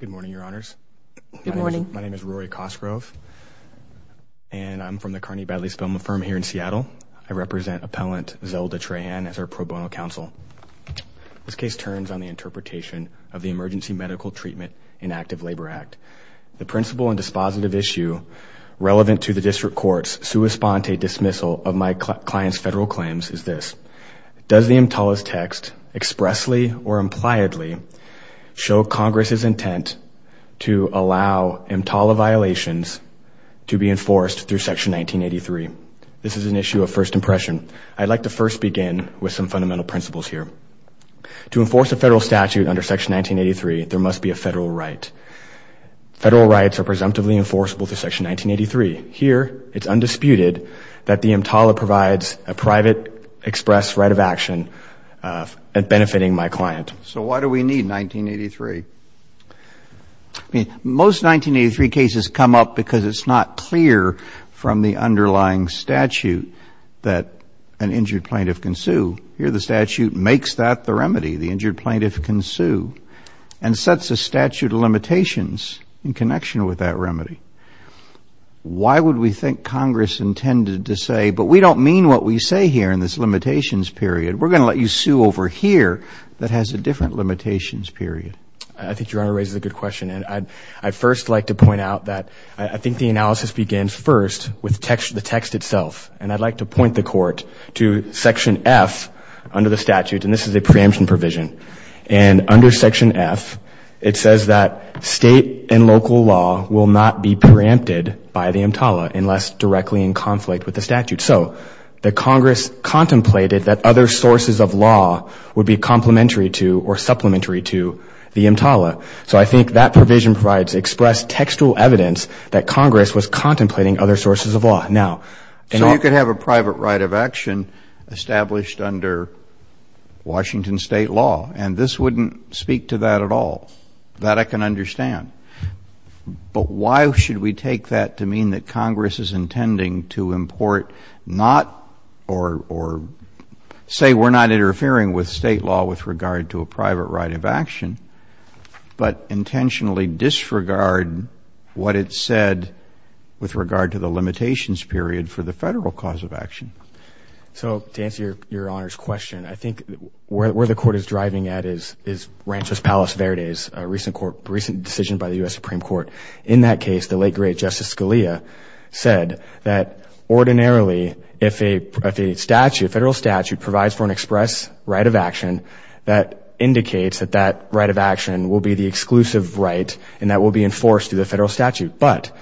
Good morning, Your Honors. Good morning. My name is Rory Cosgrove, and I'm from the Carney-Badley Spelman firm here in Seattle. I represent Appellant Zelda Trahan as our pro bono counsel. This case turns on the interpretation of the Emergency Medical Treatment in Active Labor Act. The principle and dispositive issue relevant to the district court's sua sponte dismissal of my client's federal claims is this. Does the EMTALA's text expressly or impliedly show Congress's intent to allow EMTALA violations to be enforced through Section 1983? This is an issue of first impression. I'd like to first begin with some fundamental principles here. To enforce a federal statute under Section 1983, there must be a federal right. Federal rights are presumptively enforceable through Section 1983. Here, it's undisputed that the EMTALA provides a private express right of action at benefiting my client. So why do we need 1983? Most 1983 cases come up because it's not clear from the underlying statute that an injured plaintiff can sue. Here the statute makes that the remedy, the injured plaintiff can sue, and sets a statute of limitations in connection with that remedy. Why would we think Congress intended to say, but we don't mean what we say here in this limitations period. We're going to let you sue over here that has a different limitations period. I think your Honor raises a good question. And I'd first like to point out that I think the analysis begins first with the text itself. And I'd like to point the Court to Section F under the statute, and this is a preemption provision. And under Section F, it says that state and local law will not be preempted by the EMTALA unless directly in conflict with the statute. So the Congress contemplated that other sources of law would be complementary to or supplementary to the EMTALA. So I think that provision provides expressed textual evidence that Congress was contemplating other sources of law. So you could have a private right of action established under Washington state law, and this wouldn't speak to that at all. That I can understand. But why should we take that to mean that Congress is intending to import not or say we're not interfering with state law with regard to a private right of action, but intentionally disregard what it said with regard to the limitations period for the federal cause of action? So to answer your Honor's question, I think where the Court is driving at is Rancho's Palace Verde's recent decision by the U.S. Supreme Court. In that case, the late, great Justice Scalia said that ordinarily, if a federal statute provides for an express right of action, that indicates that that right of action will be the exclusive right and that will be enforced through the federal statute. But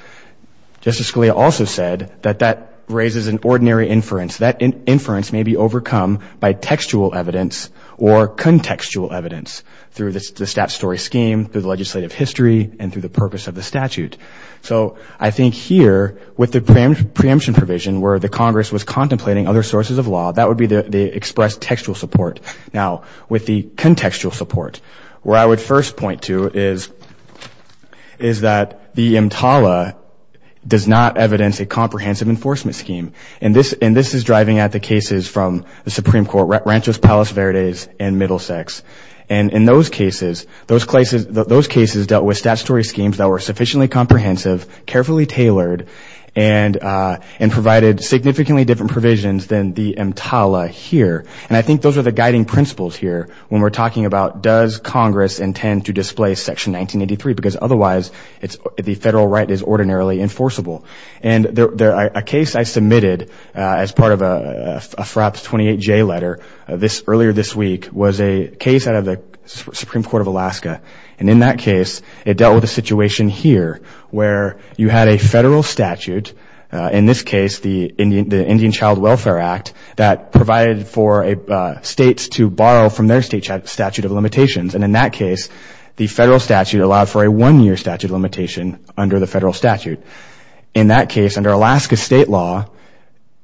Justice Scalia also said that that raises an ordinary inference. That inference may be overcome by textual evidence or contextual evidence through the statutory scheme, through the legislative history, and through the purpose of the statute. So I think here, with the preemption provision, where the Congress was contemplating other sources of law, that would be the expressed textual support. Now, with the contextual support, where I would first point to is that the EMTALA does not evidence a comprehensive enforcement scheme. And this is driving at the cases from the Supreme Court, Rancho's Palace Verde's and Middlesex. And in those cases, those cases dealt with statutory schemes that were sufficiently comprehensive, carefully tailored, and provided significantly different provisions than the EMTALA here. And I think those are the guiding principles here when we're talking about, does Congress intend to display Section 1983? Because otherwise, the federal right is ordinarily enforceable. And a case I submitted as part of a FRAPS 28J letter earlier this week was a case out of the Supreme Court of Alaska. And in that case, it dealt with a situation here where you had a federal statute, in this case, the Indian Child Welfare Act, that provided for states to borrow from their state statute of limitations. And in that case, the federal statute allowed for a one-year statute of limitation under the federal statute. In that case, under Alaska state law,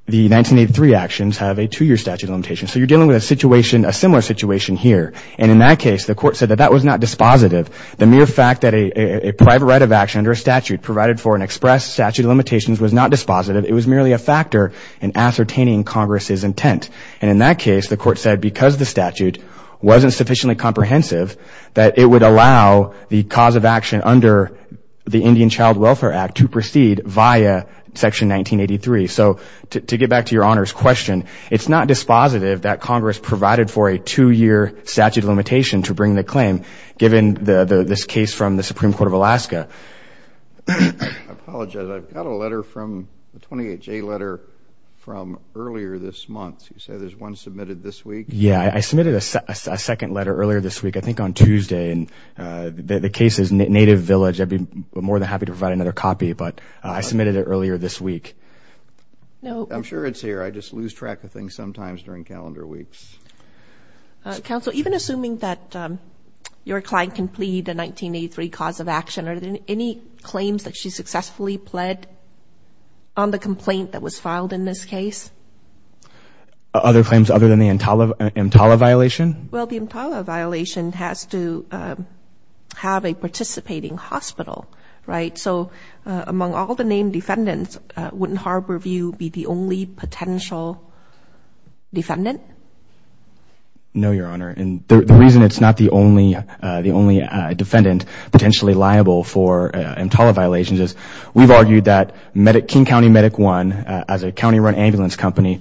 the 1983 actions have a two-year statute of limitation. So you're dealing with a similar situation here. And in that case, the court said that that was not dispositive. The mere fact that a private right of action under a statute provided for an express statute of limitations was not dispositive. It was merely a factor in ascertaining Congress's intent. And in that case, the court said because the statute wasn't sufficiently comprehensive, that it would allow the cause of action under the Indian Child Welfare Act to proceed via Section 1983. So to get back to your Honor's question, it's not dispositive that Congress provided for a two-year statute of limitation to bring the claim given this case from the Supreme Court of Alaska. I apologize. I've got a letter from the 28J letter from earlier this month. You said there's one submitted this week? Yeah. I submitted a second letter earlier this week, I think on Tuesday. The case is Native Village. I'd be more than happy to provide another copy, but I submitted it earlier this week. I'm sure it's here. I just lose track of things sometimes during calendar weeks. Counsel, even assuming that your client can plead the 1983 cause of action, are there any claims that she successfully pled on the complaint that was filed in this case? Other claims other than the Mtala violation? Well, the Mtala violation has to have a participating hospital, right? So among all the named defendants, wouldn't Harborview be the only potential defendant? No, Your Honor. And the reason it's not the only defendant potentially liable for Mtala violations is we've argued that King County Medic One, as a county-run ambulance company,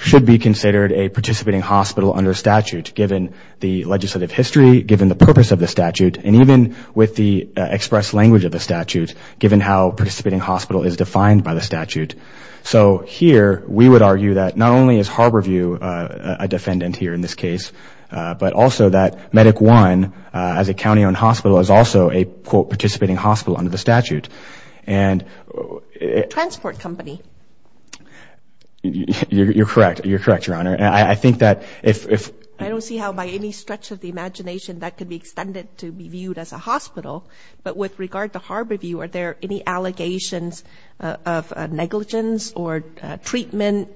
should be considered a participating hospital under statute, given the legislative history, given the purpose of the statute, and even with the express language of the statute, given how participating hospital is defined by the statute. So here we would argue that not only is Harborview a defendant here in this case, but also that Medic One, as a county-owned hospital, is also a, quote, participating hospital under the statute. A transport company. You're correct. You're correct, Your Honor. I don't see how by any stretch of the imagination that could be extended to be viewed as a hospital. But with regard to Harborview, are there any allegations of negligence or treatment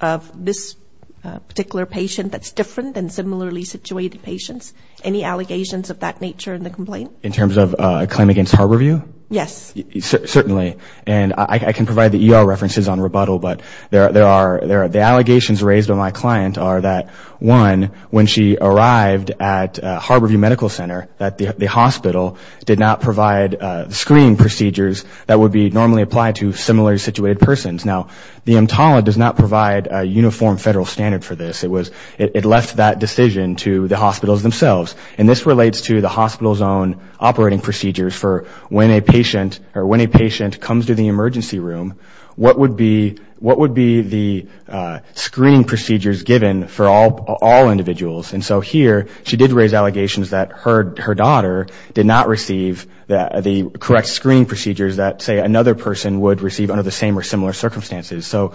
of this particular patient that's different than similarly situated patients? Any allegations of that nature in the complaint? In terms of a claim against Harborview? Yes. Certainly. And I can provide the ER references on rebuttal, but the allegations raised by my client are that, one, when she arrived at Harborview Medical Center, that the hospital did not provide screening procedures that would be normally applied to similarly situated persons. Now, the EMTALA does not provide a uniform federal standard for this. It left that decision to the hospitals themselves. And this relates to the hospital's own operating procedures for when a patient comes to the emergency room, what would be the screening procedures given for all individuals? And so here she did raise allegations that her daughter did not receive the correct screening procedures that, say, another person would receive under the same or similar circumstances. So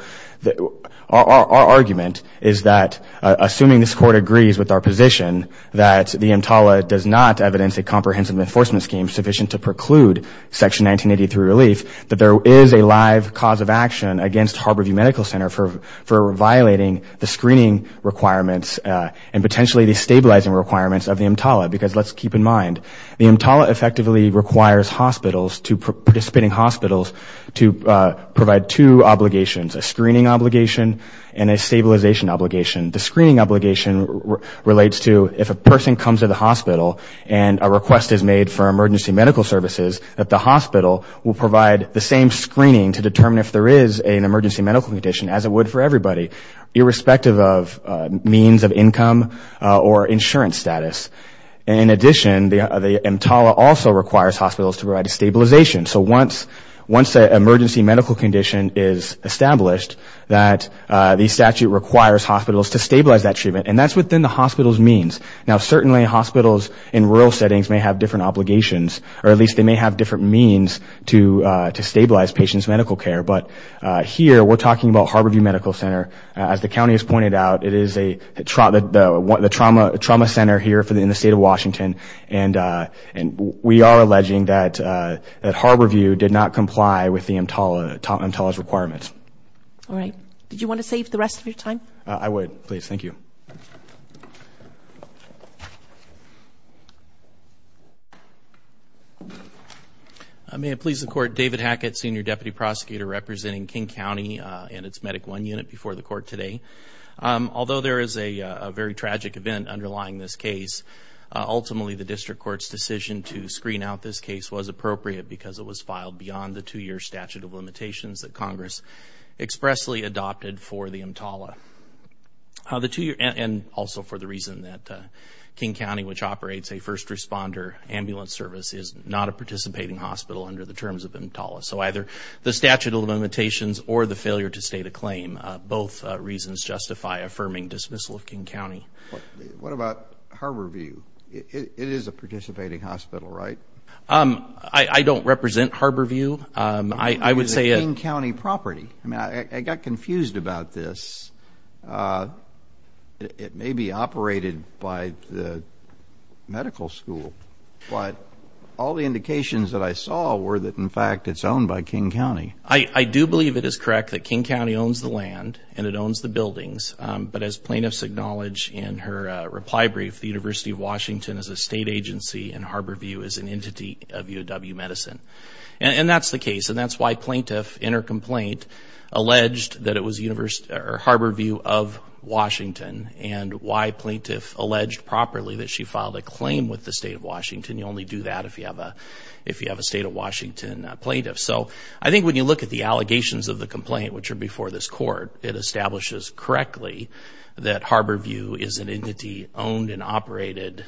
our argument is that, assuming this Court agrees with our position, that the EMTALA does not evidence a comprehensive enforcement scheme sufficient to preclude Section 1983 relief, that there is a live cause of action against Harborview Medical Center for violating the screening requirements and potentially the stabilizing requirements of the EMTALA. Because let's keep in mind, the EMTALA effectively requires hospitals, participating hospitals, to provide two obligations, a screening obligation and a stabilization obligation. The screening obligation relates to if a person comes to the hospital and a request is made for emergency medical services, that the hospital will provide the same screening to determine if there is an emergency medical condition, as it would for everybody, irrespective of means of income or insurance status. In addition, the EMTALA also requires hospitals to provide a stabilization. So once an emergency medical condition is established, that the statute requires hospitals to stabilize that treatment. And that's within the hospital's means. Now certainly, hospitals in rural settings may have different obligations, or at least they may have different means to stabilize patients' medical care. But here, we're talking about Harborview Medical Center. As the county has pointed out, it is the trauma center here in the state of Washington. And we are alleging that Harborview did not comply with the EMTALA's requirements. All right. Did you want to save the rest of your time? I would, please. Thank you. May it please the Court, David Hackett, Senior Deputy Prosecutor, representing King County and its Medic One unit before the Court today. Although there is a very tragic event underlying this case, ultimately the District Court's decision to screen out this case was appropriate because it was filed beyond the two-year statute of limitations that Congress expressly adopted for the EMTALA. And also for the reason that King County, which operates a first responder ambulance service, is not a participating hospital under the terms of EMTALA. So either the statute of limitations or the failure to state a claim, both reasons justify affirming dismissal of King County. What about Harborview? It is a participating hospital, right? I don't represent Harborview. I would say it is a King County property. I got confused about this. It may be operated by the medical school, but all the indications that I saw were that, in fact, it's owned by King County. I do believe it is correct that King County owns the land and it owns the buildings, but as plaintiffs acknowledge in her reply brief, the University of Washington is a state agency and Harborview is an entity of UW Medicine. And that's the case, and that's why plaintiff, in her complaint, alleged that it was Harborview of Washington and why plaintiff alleged properly that she filed a claim with the state of Washington. You only do that if you have a state of Washington plaintiff. So I think when you look at the allegations of the complaint, which are before this court, it establishes correctly that Harborview is an entity owned and operated,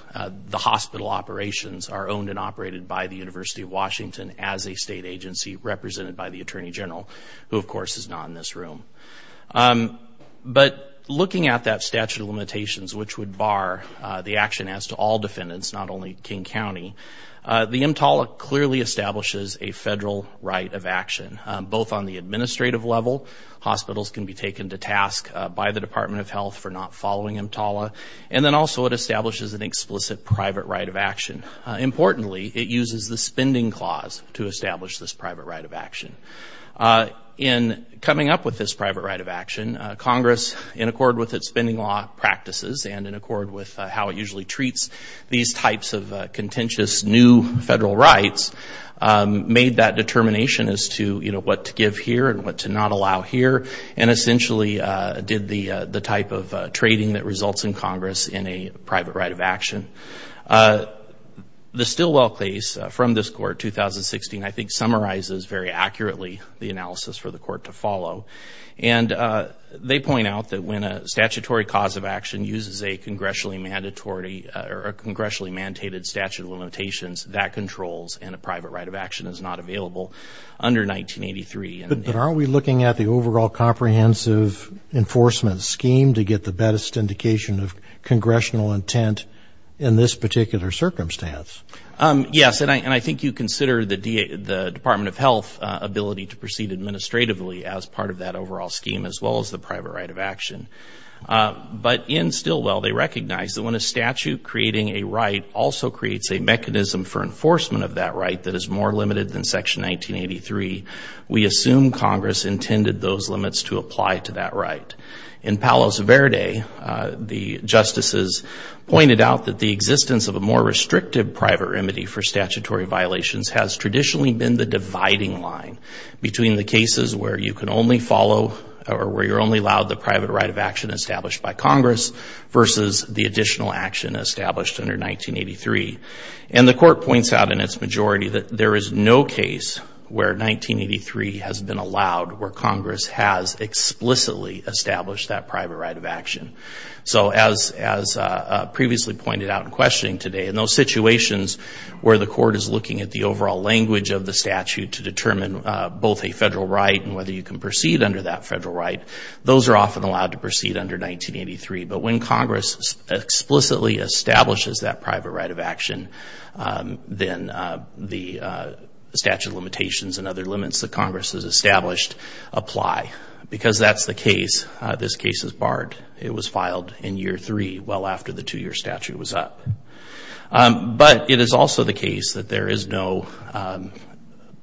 the hospital operations are owned and operated by the University of Washington as a state agency represented by the Attorney General, who, of course, is not in this room. But looking at that statute of limitations, which would bar the action as to all defendants, not only King County, the EMTALA clearly establishes a federal right of action, both on the administrative level, hospitals can be taken to task by the Department of Health for not following EMTALA, and then also it establishes an explicit private right of action. Importantly, it uses the spending clause to establish this private right of action. In coming up with this private right of action, Congress, in accord with its spending law practices and in accord with how it usually treats these types of contentious new federal rights, made that determination as to what to give here and what to not allow here and essentially did the type of trading that results in Congress in a private right of action. The Stilwell case from this court, 2016, I think summarizes very accurately the analysis for the court to follow. And they point out that when a statutory cause of action uses a congressionally mandated statute of limitations, that controls and a private right of action is not available under 1983. But aren't we looking at the overall comprehensive enforcement scheme to get the best indication of congressional intent in this particular circumstance? Yes, and I think you consider the Department of Health ability to proceed administratively as part of that overall scheme as well as the private right of action. But in Stilwell, they recognize that when a statute creating a right also creates a mechanism for enforcement of that right that is more limited than Section 1983, we assume Congress intended those limits to apply to that right. In Palos Verde, the justices pointed out that the existence of a more restrictive private remedy for statutory violations has traditionally been the dividing line between the cases where you can only follow or where you're only allowed the private right of action established by Congress versus the additional action established under 1983. And the Court points out in its majority that there is no case where 1983 has been allowed where Congress has explicitly established that private right of action. So as previously pointed out in questioning today, in those situations where the Court is looking at the overall language of the statute to determine both a federal right and whether you can proceed under that federal right, those are often allowed to proceed under 1983. But when Congress explicitly establishes that private right of action, then the statute of limitations and other limits that Congress has established apply. Because that's the case, this case is barred. It was filed in year three, well after the two-year statute was up. But it is also the case that there is no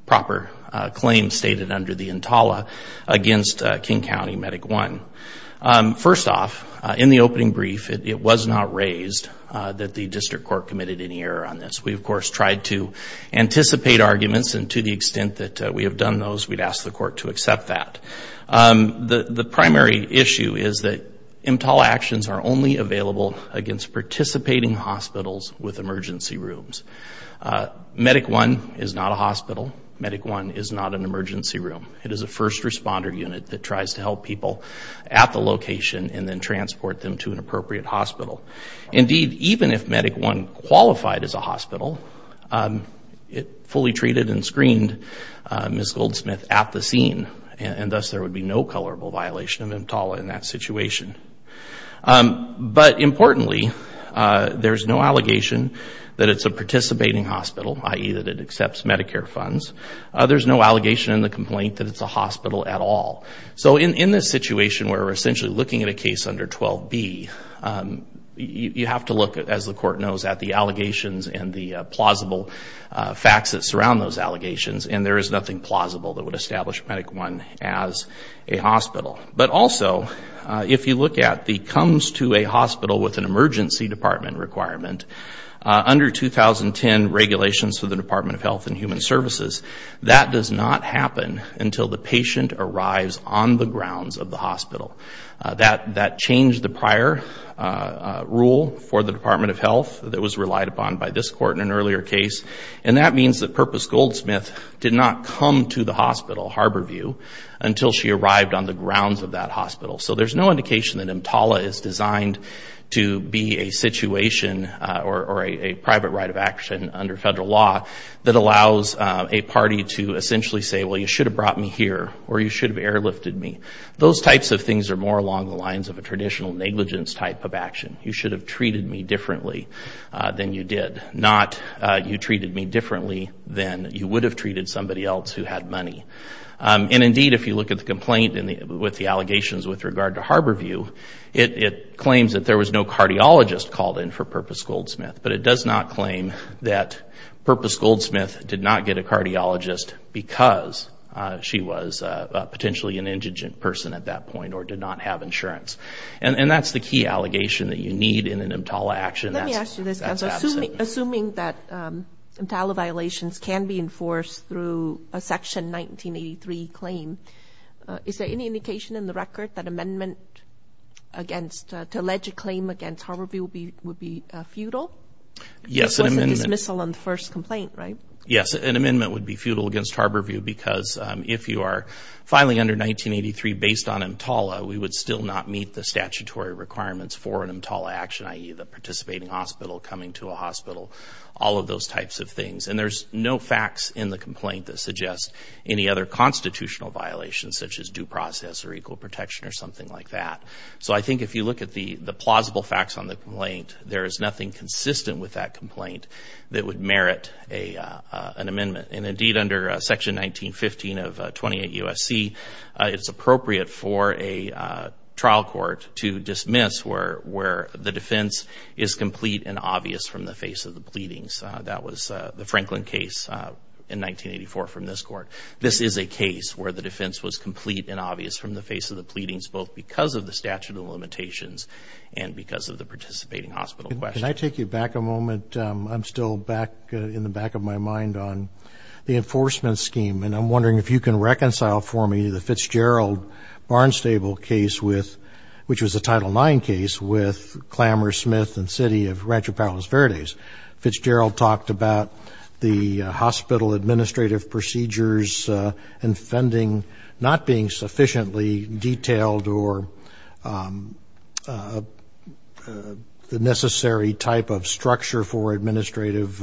proper claim stated under the Entala against King County Medic I. First off, in the opening brief, it was not raised that the District Court committed any error on this. We, of course, tried to anticipate arguments, and to the extent that we have done those, we'd ask the Court to accept that. The primary issue is that Entala actions are only available against participating hospitals with emergency rooms. Medic I is not a hospital. Medic I is not an emergency room. It is a first responder unit that tries to help people at the location and then transport them to an appropriate hospital. Indeed, even if Medic I qualified as a hospital, it fully treated and screened Ms. Goldsmith at the scene, and thus there would be no colorable violation of Entala in that situation. But importantly, there's no allegation that it's a participating hospital, i.e. that it accepts Medicare funds. There's no allegation in the complaint that it's a hospital at all. So in this situation where we're essentially looking at a case under 12B, you have to look, as the Court knows, at the allegations and the plausible facts that surround those allegations, and there is nothing plausible that would establish Medic I as a hospital. But also, if you look at the comes to a hospital with an emergency department requirement, under 2010 regulations for the Department of Health and Human Services, that does not happen until the patient arrives on the grounds of the hospital. That changed the prior rule for the Department of Health that was relied upon by this Court in an earlier case, and that means that Purpose Goldsmith did not come to the hospital, Harborview, until she arrived on the grounds of that hospital. So there's no indication that EMTALA is designed to be a situation or a private right of action under federal law that allows a party to essentially say, well, you should have brought me here, or you should have airlifted me. Those types of things are more along the lines of a traditional negligence type of action. You should have treated me differently than you did, not you treated me differently than you would have treated somebody else who had money. And indeed, if you look at the complaint with the allegations with regard to Harborview, it claims that there was no cardiologist called in for Purpose Goldsmith, but it does not claim that Purpose Goldsmith did not get a cardiologist because she was potentially an indigent person at that point or did not have insurance. And that's the key allegation that you need in an EMTALA action. Let me ask you this, Counselor. Assuming that EMTALA violations can be enforced through a Section 1983 claim, is there any indication in the record that amendment against, to allege a claim against Harborview would be futile? Yes, an amendment. It wasn't dismissal on the first complaint, right? Yes, an amendment would be futile against Harborview because if you are filing under 1983 based on EMTALA, we would still not meet the statutory requirements for an EMTALA action, i.e., the participating hospital coming to a hospital, all of those types of things. And there's no facts in the complaint that suggest any other constitutional violations such as due process or equal protection or something like that. So I think if you look at the plausible facts on the complaint, there is nothing consistent with that complaint that would merit an amendment. And indeed, under Section 1915 of 28 U.S.C., it's appropriate for a trial court to dismiss where the defense is complete and obvious from the face of the pleadings. That was the Franklin case in 1984 from this court. This is a case where the defense was complete and obvious from the face of the pleadings both because of the statute of limitations and because of the participating hospital question. Can I take you back a moment? I'm still back in the back of my mind on the enforcement scheme, and I'm wondering if you can reconcile for me the Fitzgerald-Barnstable case with, which was a Title IX case with Clamour, Smith, and City of Rancho Palos Verdes. Fitzgerald talked about the hospital administrative procedures and funding not being sufficiently detailed or the necessary type of structure for administrative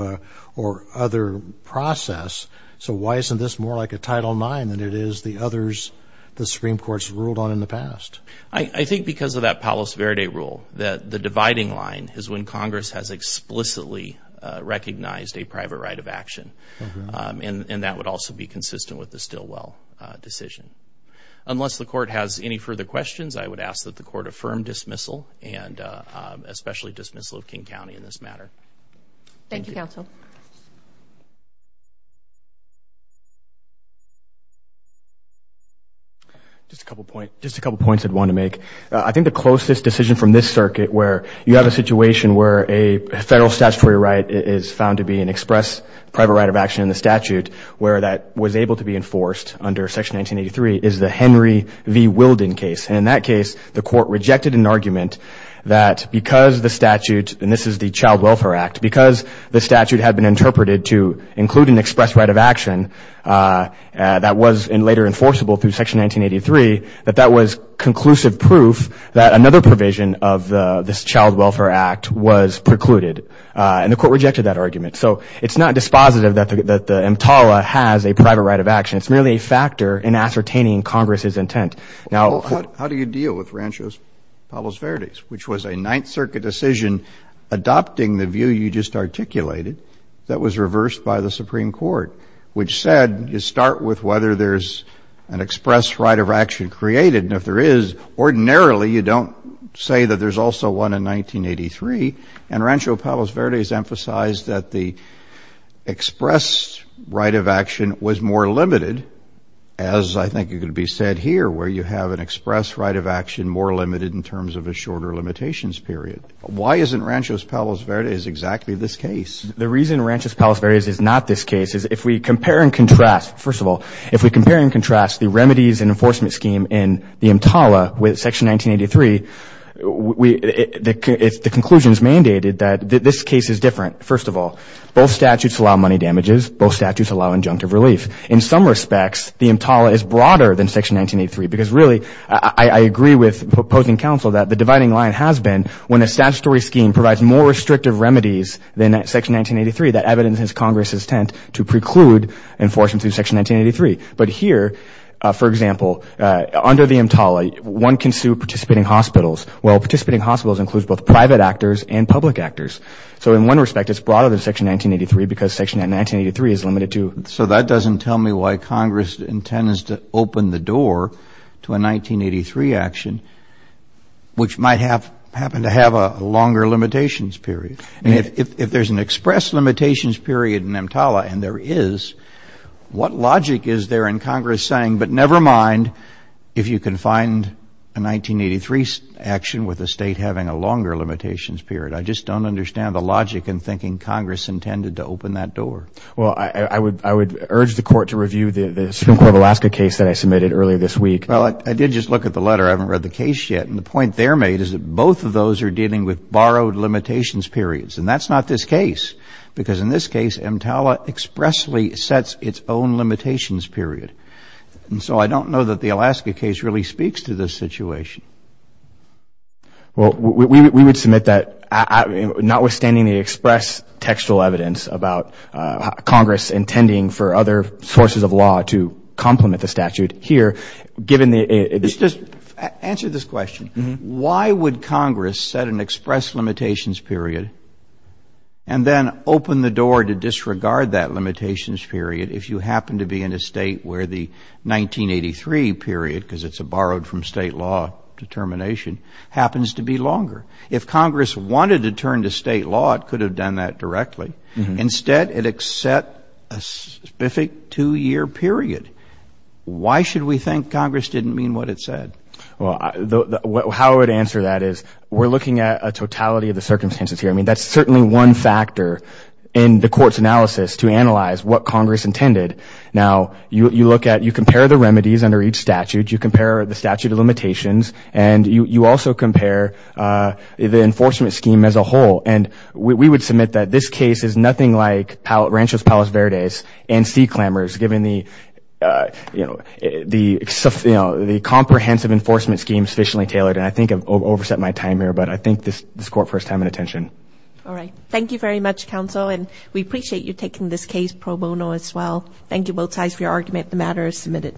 or other process. So why isn't this more like a Title IX than it is the others the Supreme Court's ruled on in the past? I think because of that Palos Verdes rule, that the dividing line is when Congress has explicitly recognized a private right of action, and that would also be consistent with the Stilwell decision. Unless the court has any further questions, I would ask that the court affirm dismissal Thank you, counsel. Just a couple points I'd want to make. I think the closest decision from this circuit where you have a situation where a federal statutory right is found to be an express private right of action in the statute where that was able to be enforced under Section 1983 is the Henry v. Wilden case. And in that case, the court rejected an argument that because the statute, and this is the Child Welfare Act, that was later enforceable through Section 1983, that that was conclusive proof that another provision of this Child Welfare Act was precluded. And the court rejected that argument. So it's not dispositive that the EMTALA has a private right of action. It's merely a factor in ascertaining Congress's intent. How do you deal with Rancho Palos Verdes, which was a Ninth Circuit decision adopting the view you just articulated that was reversed by the Supreme Court, which said you start with whether there's an express right of action created. And if there is, ordinarily, you don't say that there's also one in 1983. And Rancho Palos Verdes emphasized that the express right of action was more limited, as I think it could be said here, where you have an express right of action more limited in terms of a shorter limitations period. Why isn't Rancho Palos Verdes exactly this case? The reason Rancho Palos Verdes is not this case is if we compare and contrast, first of all, if we compare and contrast the remedies and enforcement scheme in the EMTALA with Section 1983, the conclusion is mandated that this case is different, first of all. Both statutes allow money damages. Both statutes allow injunctive relief. In some respects, the EMTALA is broader than Section 1983, because really I agree with opposing counsel that the dividing line has been when a statutory scheme provides more restrictive remedies than Section 1983, that evidences Congress's intent to preclude enforcement through Section 1983. But here, for example, under the EMTALA, one can sue participating hospitals. Well, participating hospitals includes both private actors and public actors. So in one respect, it's broader than Section 1983, because Section 1983 is limited to. So that doesn't tell me why Congress intends to open the door to a 1983 action, which might happen to have a longer limitations period. I mean, if there's an express limitations period in EMTALA, and there is, what logic is there in Congress saying, but never mind if you can find a 1983 action with a state having a longer limitations period? I just don't understand the logic in thinking Congress intended to open that door. Well, I would urge the Court to review the Supreme Court of Alaska case that I submitted earlier this week. Well, I did just look at the letter. I haven't read the case yet. And the point there made is that both of those are dealing with borrowed limitations periods. And that's not this case, because in this case, EMTALA expressly sets its own limitations period. And so I don't know that the Alaska case really speaks to this situation. Well, we would submit that, notwithstanding the express textual evidence about Congress intending for other sources of law to complement the statute here, given the ‑‑ Just answer this question. Why would Congress set an express limitations period and then open the door to disregard that limitations period if you happen to be in a state where the 1983 period, because it's a borrowed from state law determination, happens to be longer? If Congress wanted to turn to state law, it could have done that directly. Instead, it set a specific two‑year period. Why should we think Congress didn't mean what it said? Well, how I would answer that is we're looking at a totality of the circumstances here. I mean, that's certainly one factor in the Court's analysis to analyze what Congress intended. Now, you look at ‑‑ you compare the remedies under each statute. You compare the statute of limitations. And you also compare the enforcement scheme as a whole. And we would submit that this case is nothing like Rancho's Palos Verdes and sea clamors, given the comprehensive enforcement scheme sufficiently tailored. And I think I've overset my time here, but I thank this Court for its time and attention. All right. Thank you very much, Counsel. And we appreciate you taking this case pro bono as well. Thank you both sides for your argument. The matter is submitted.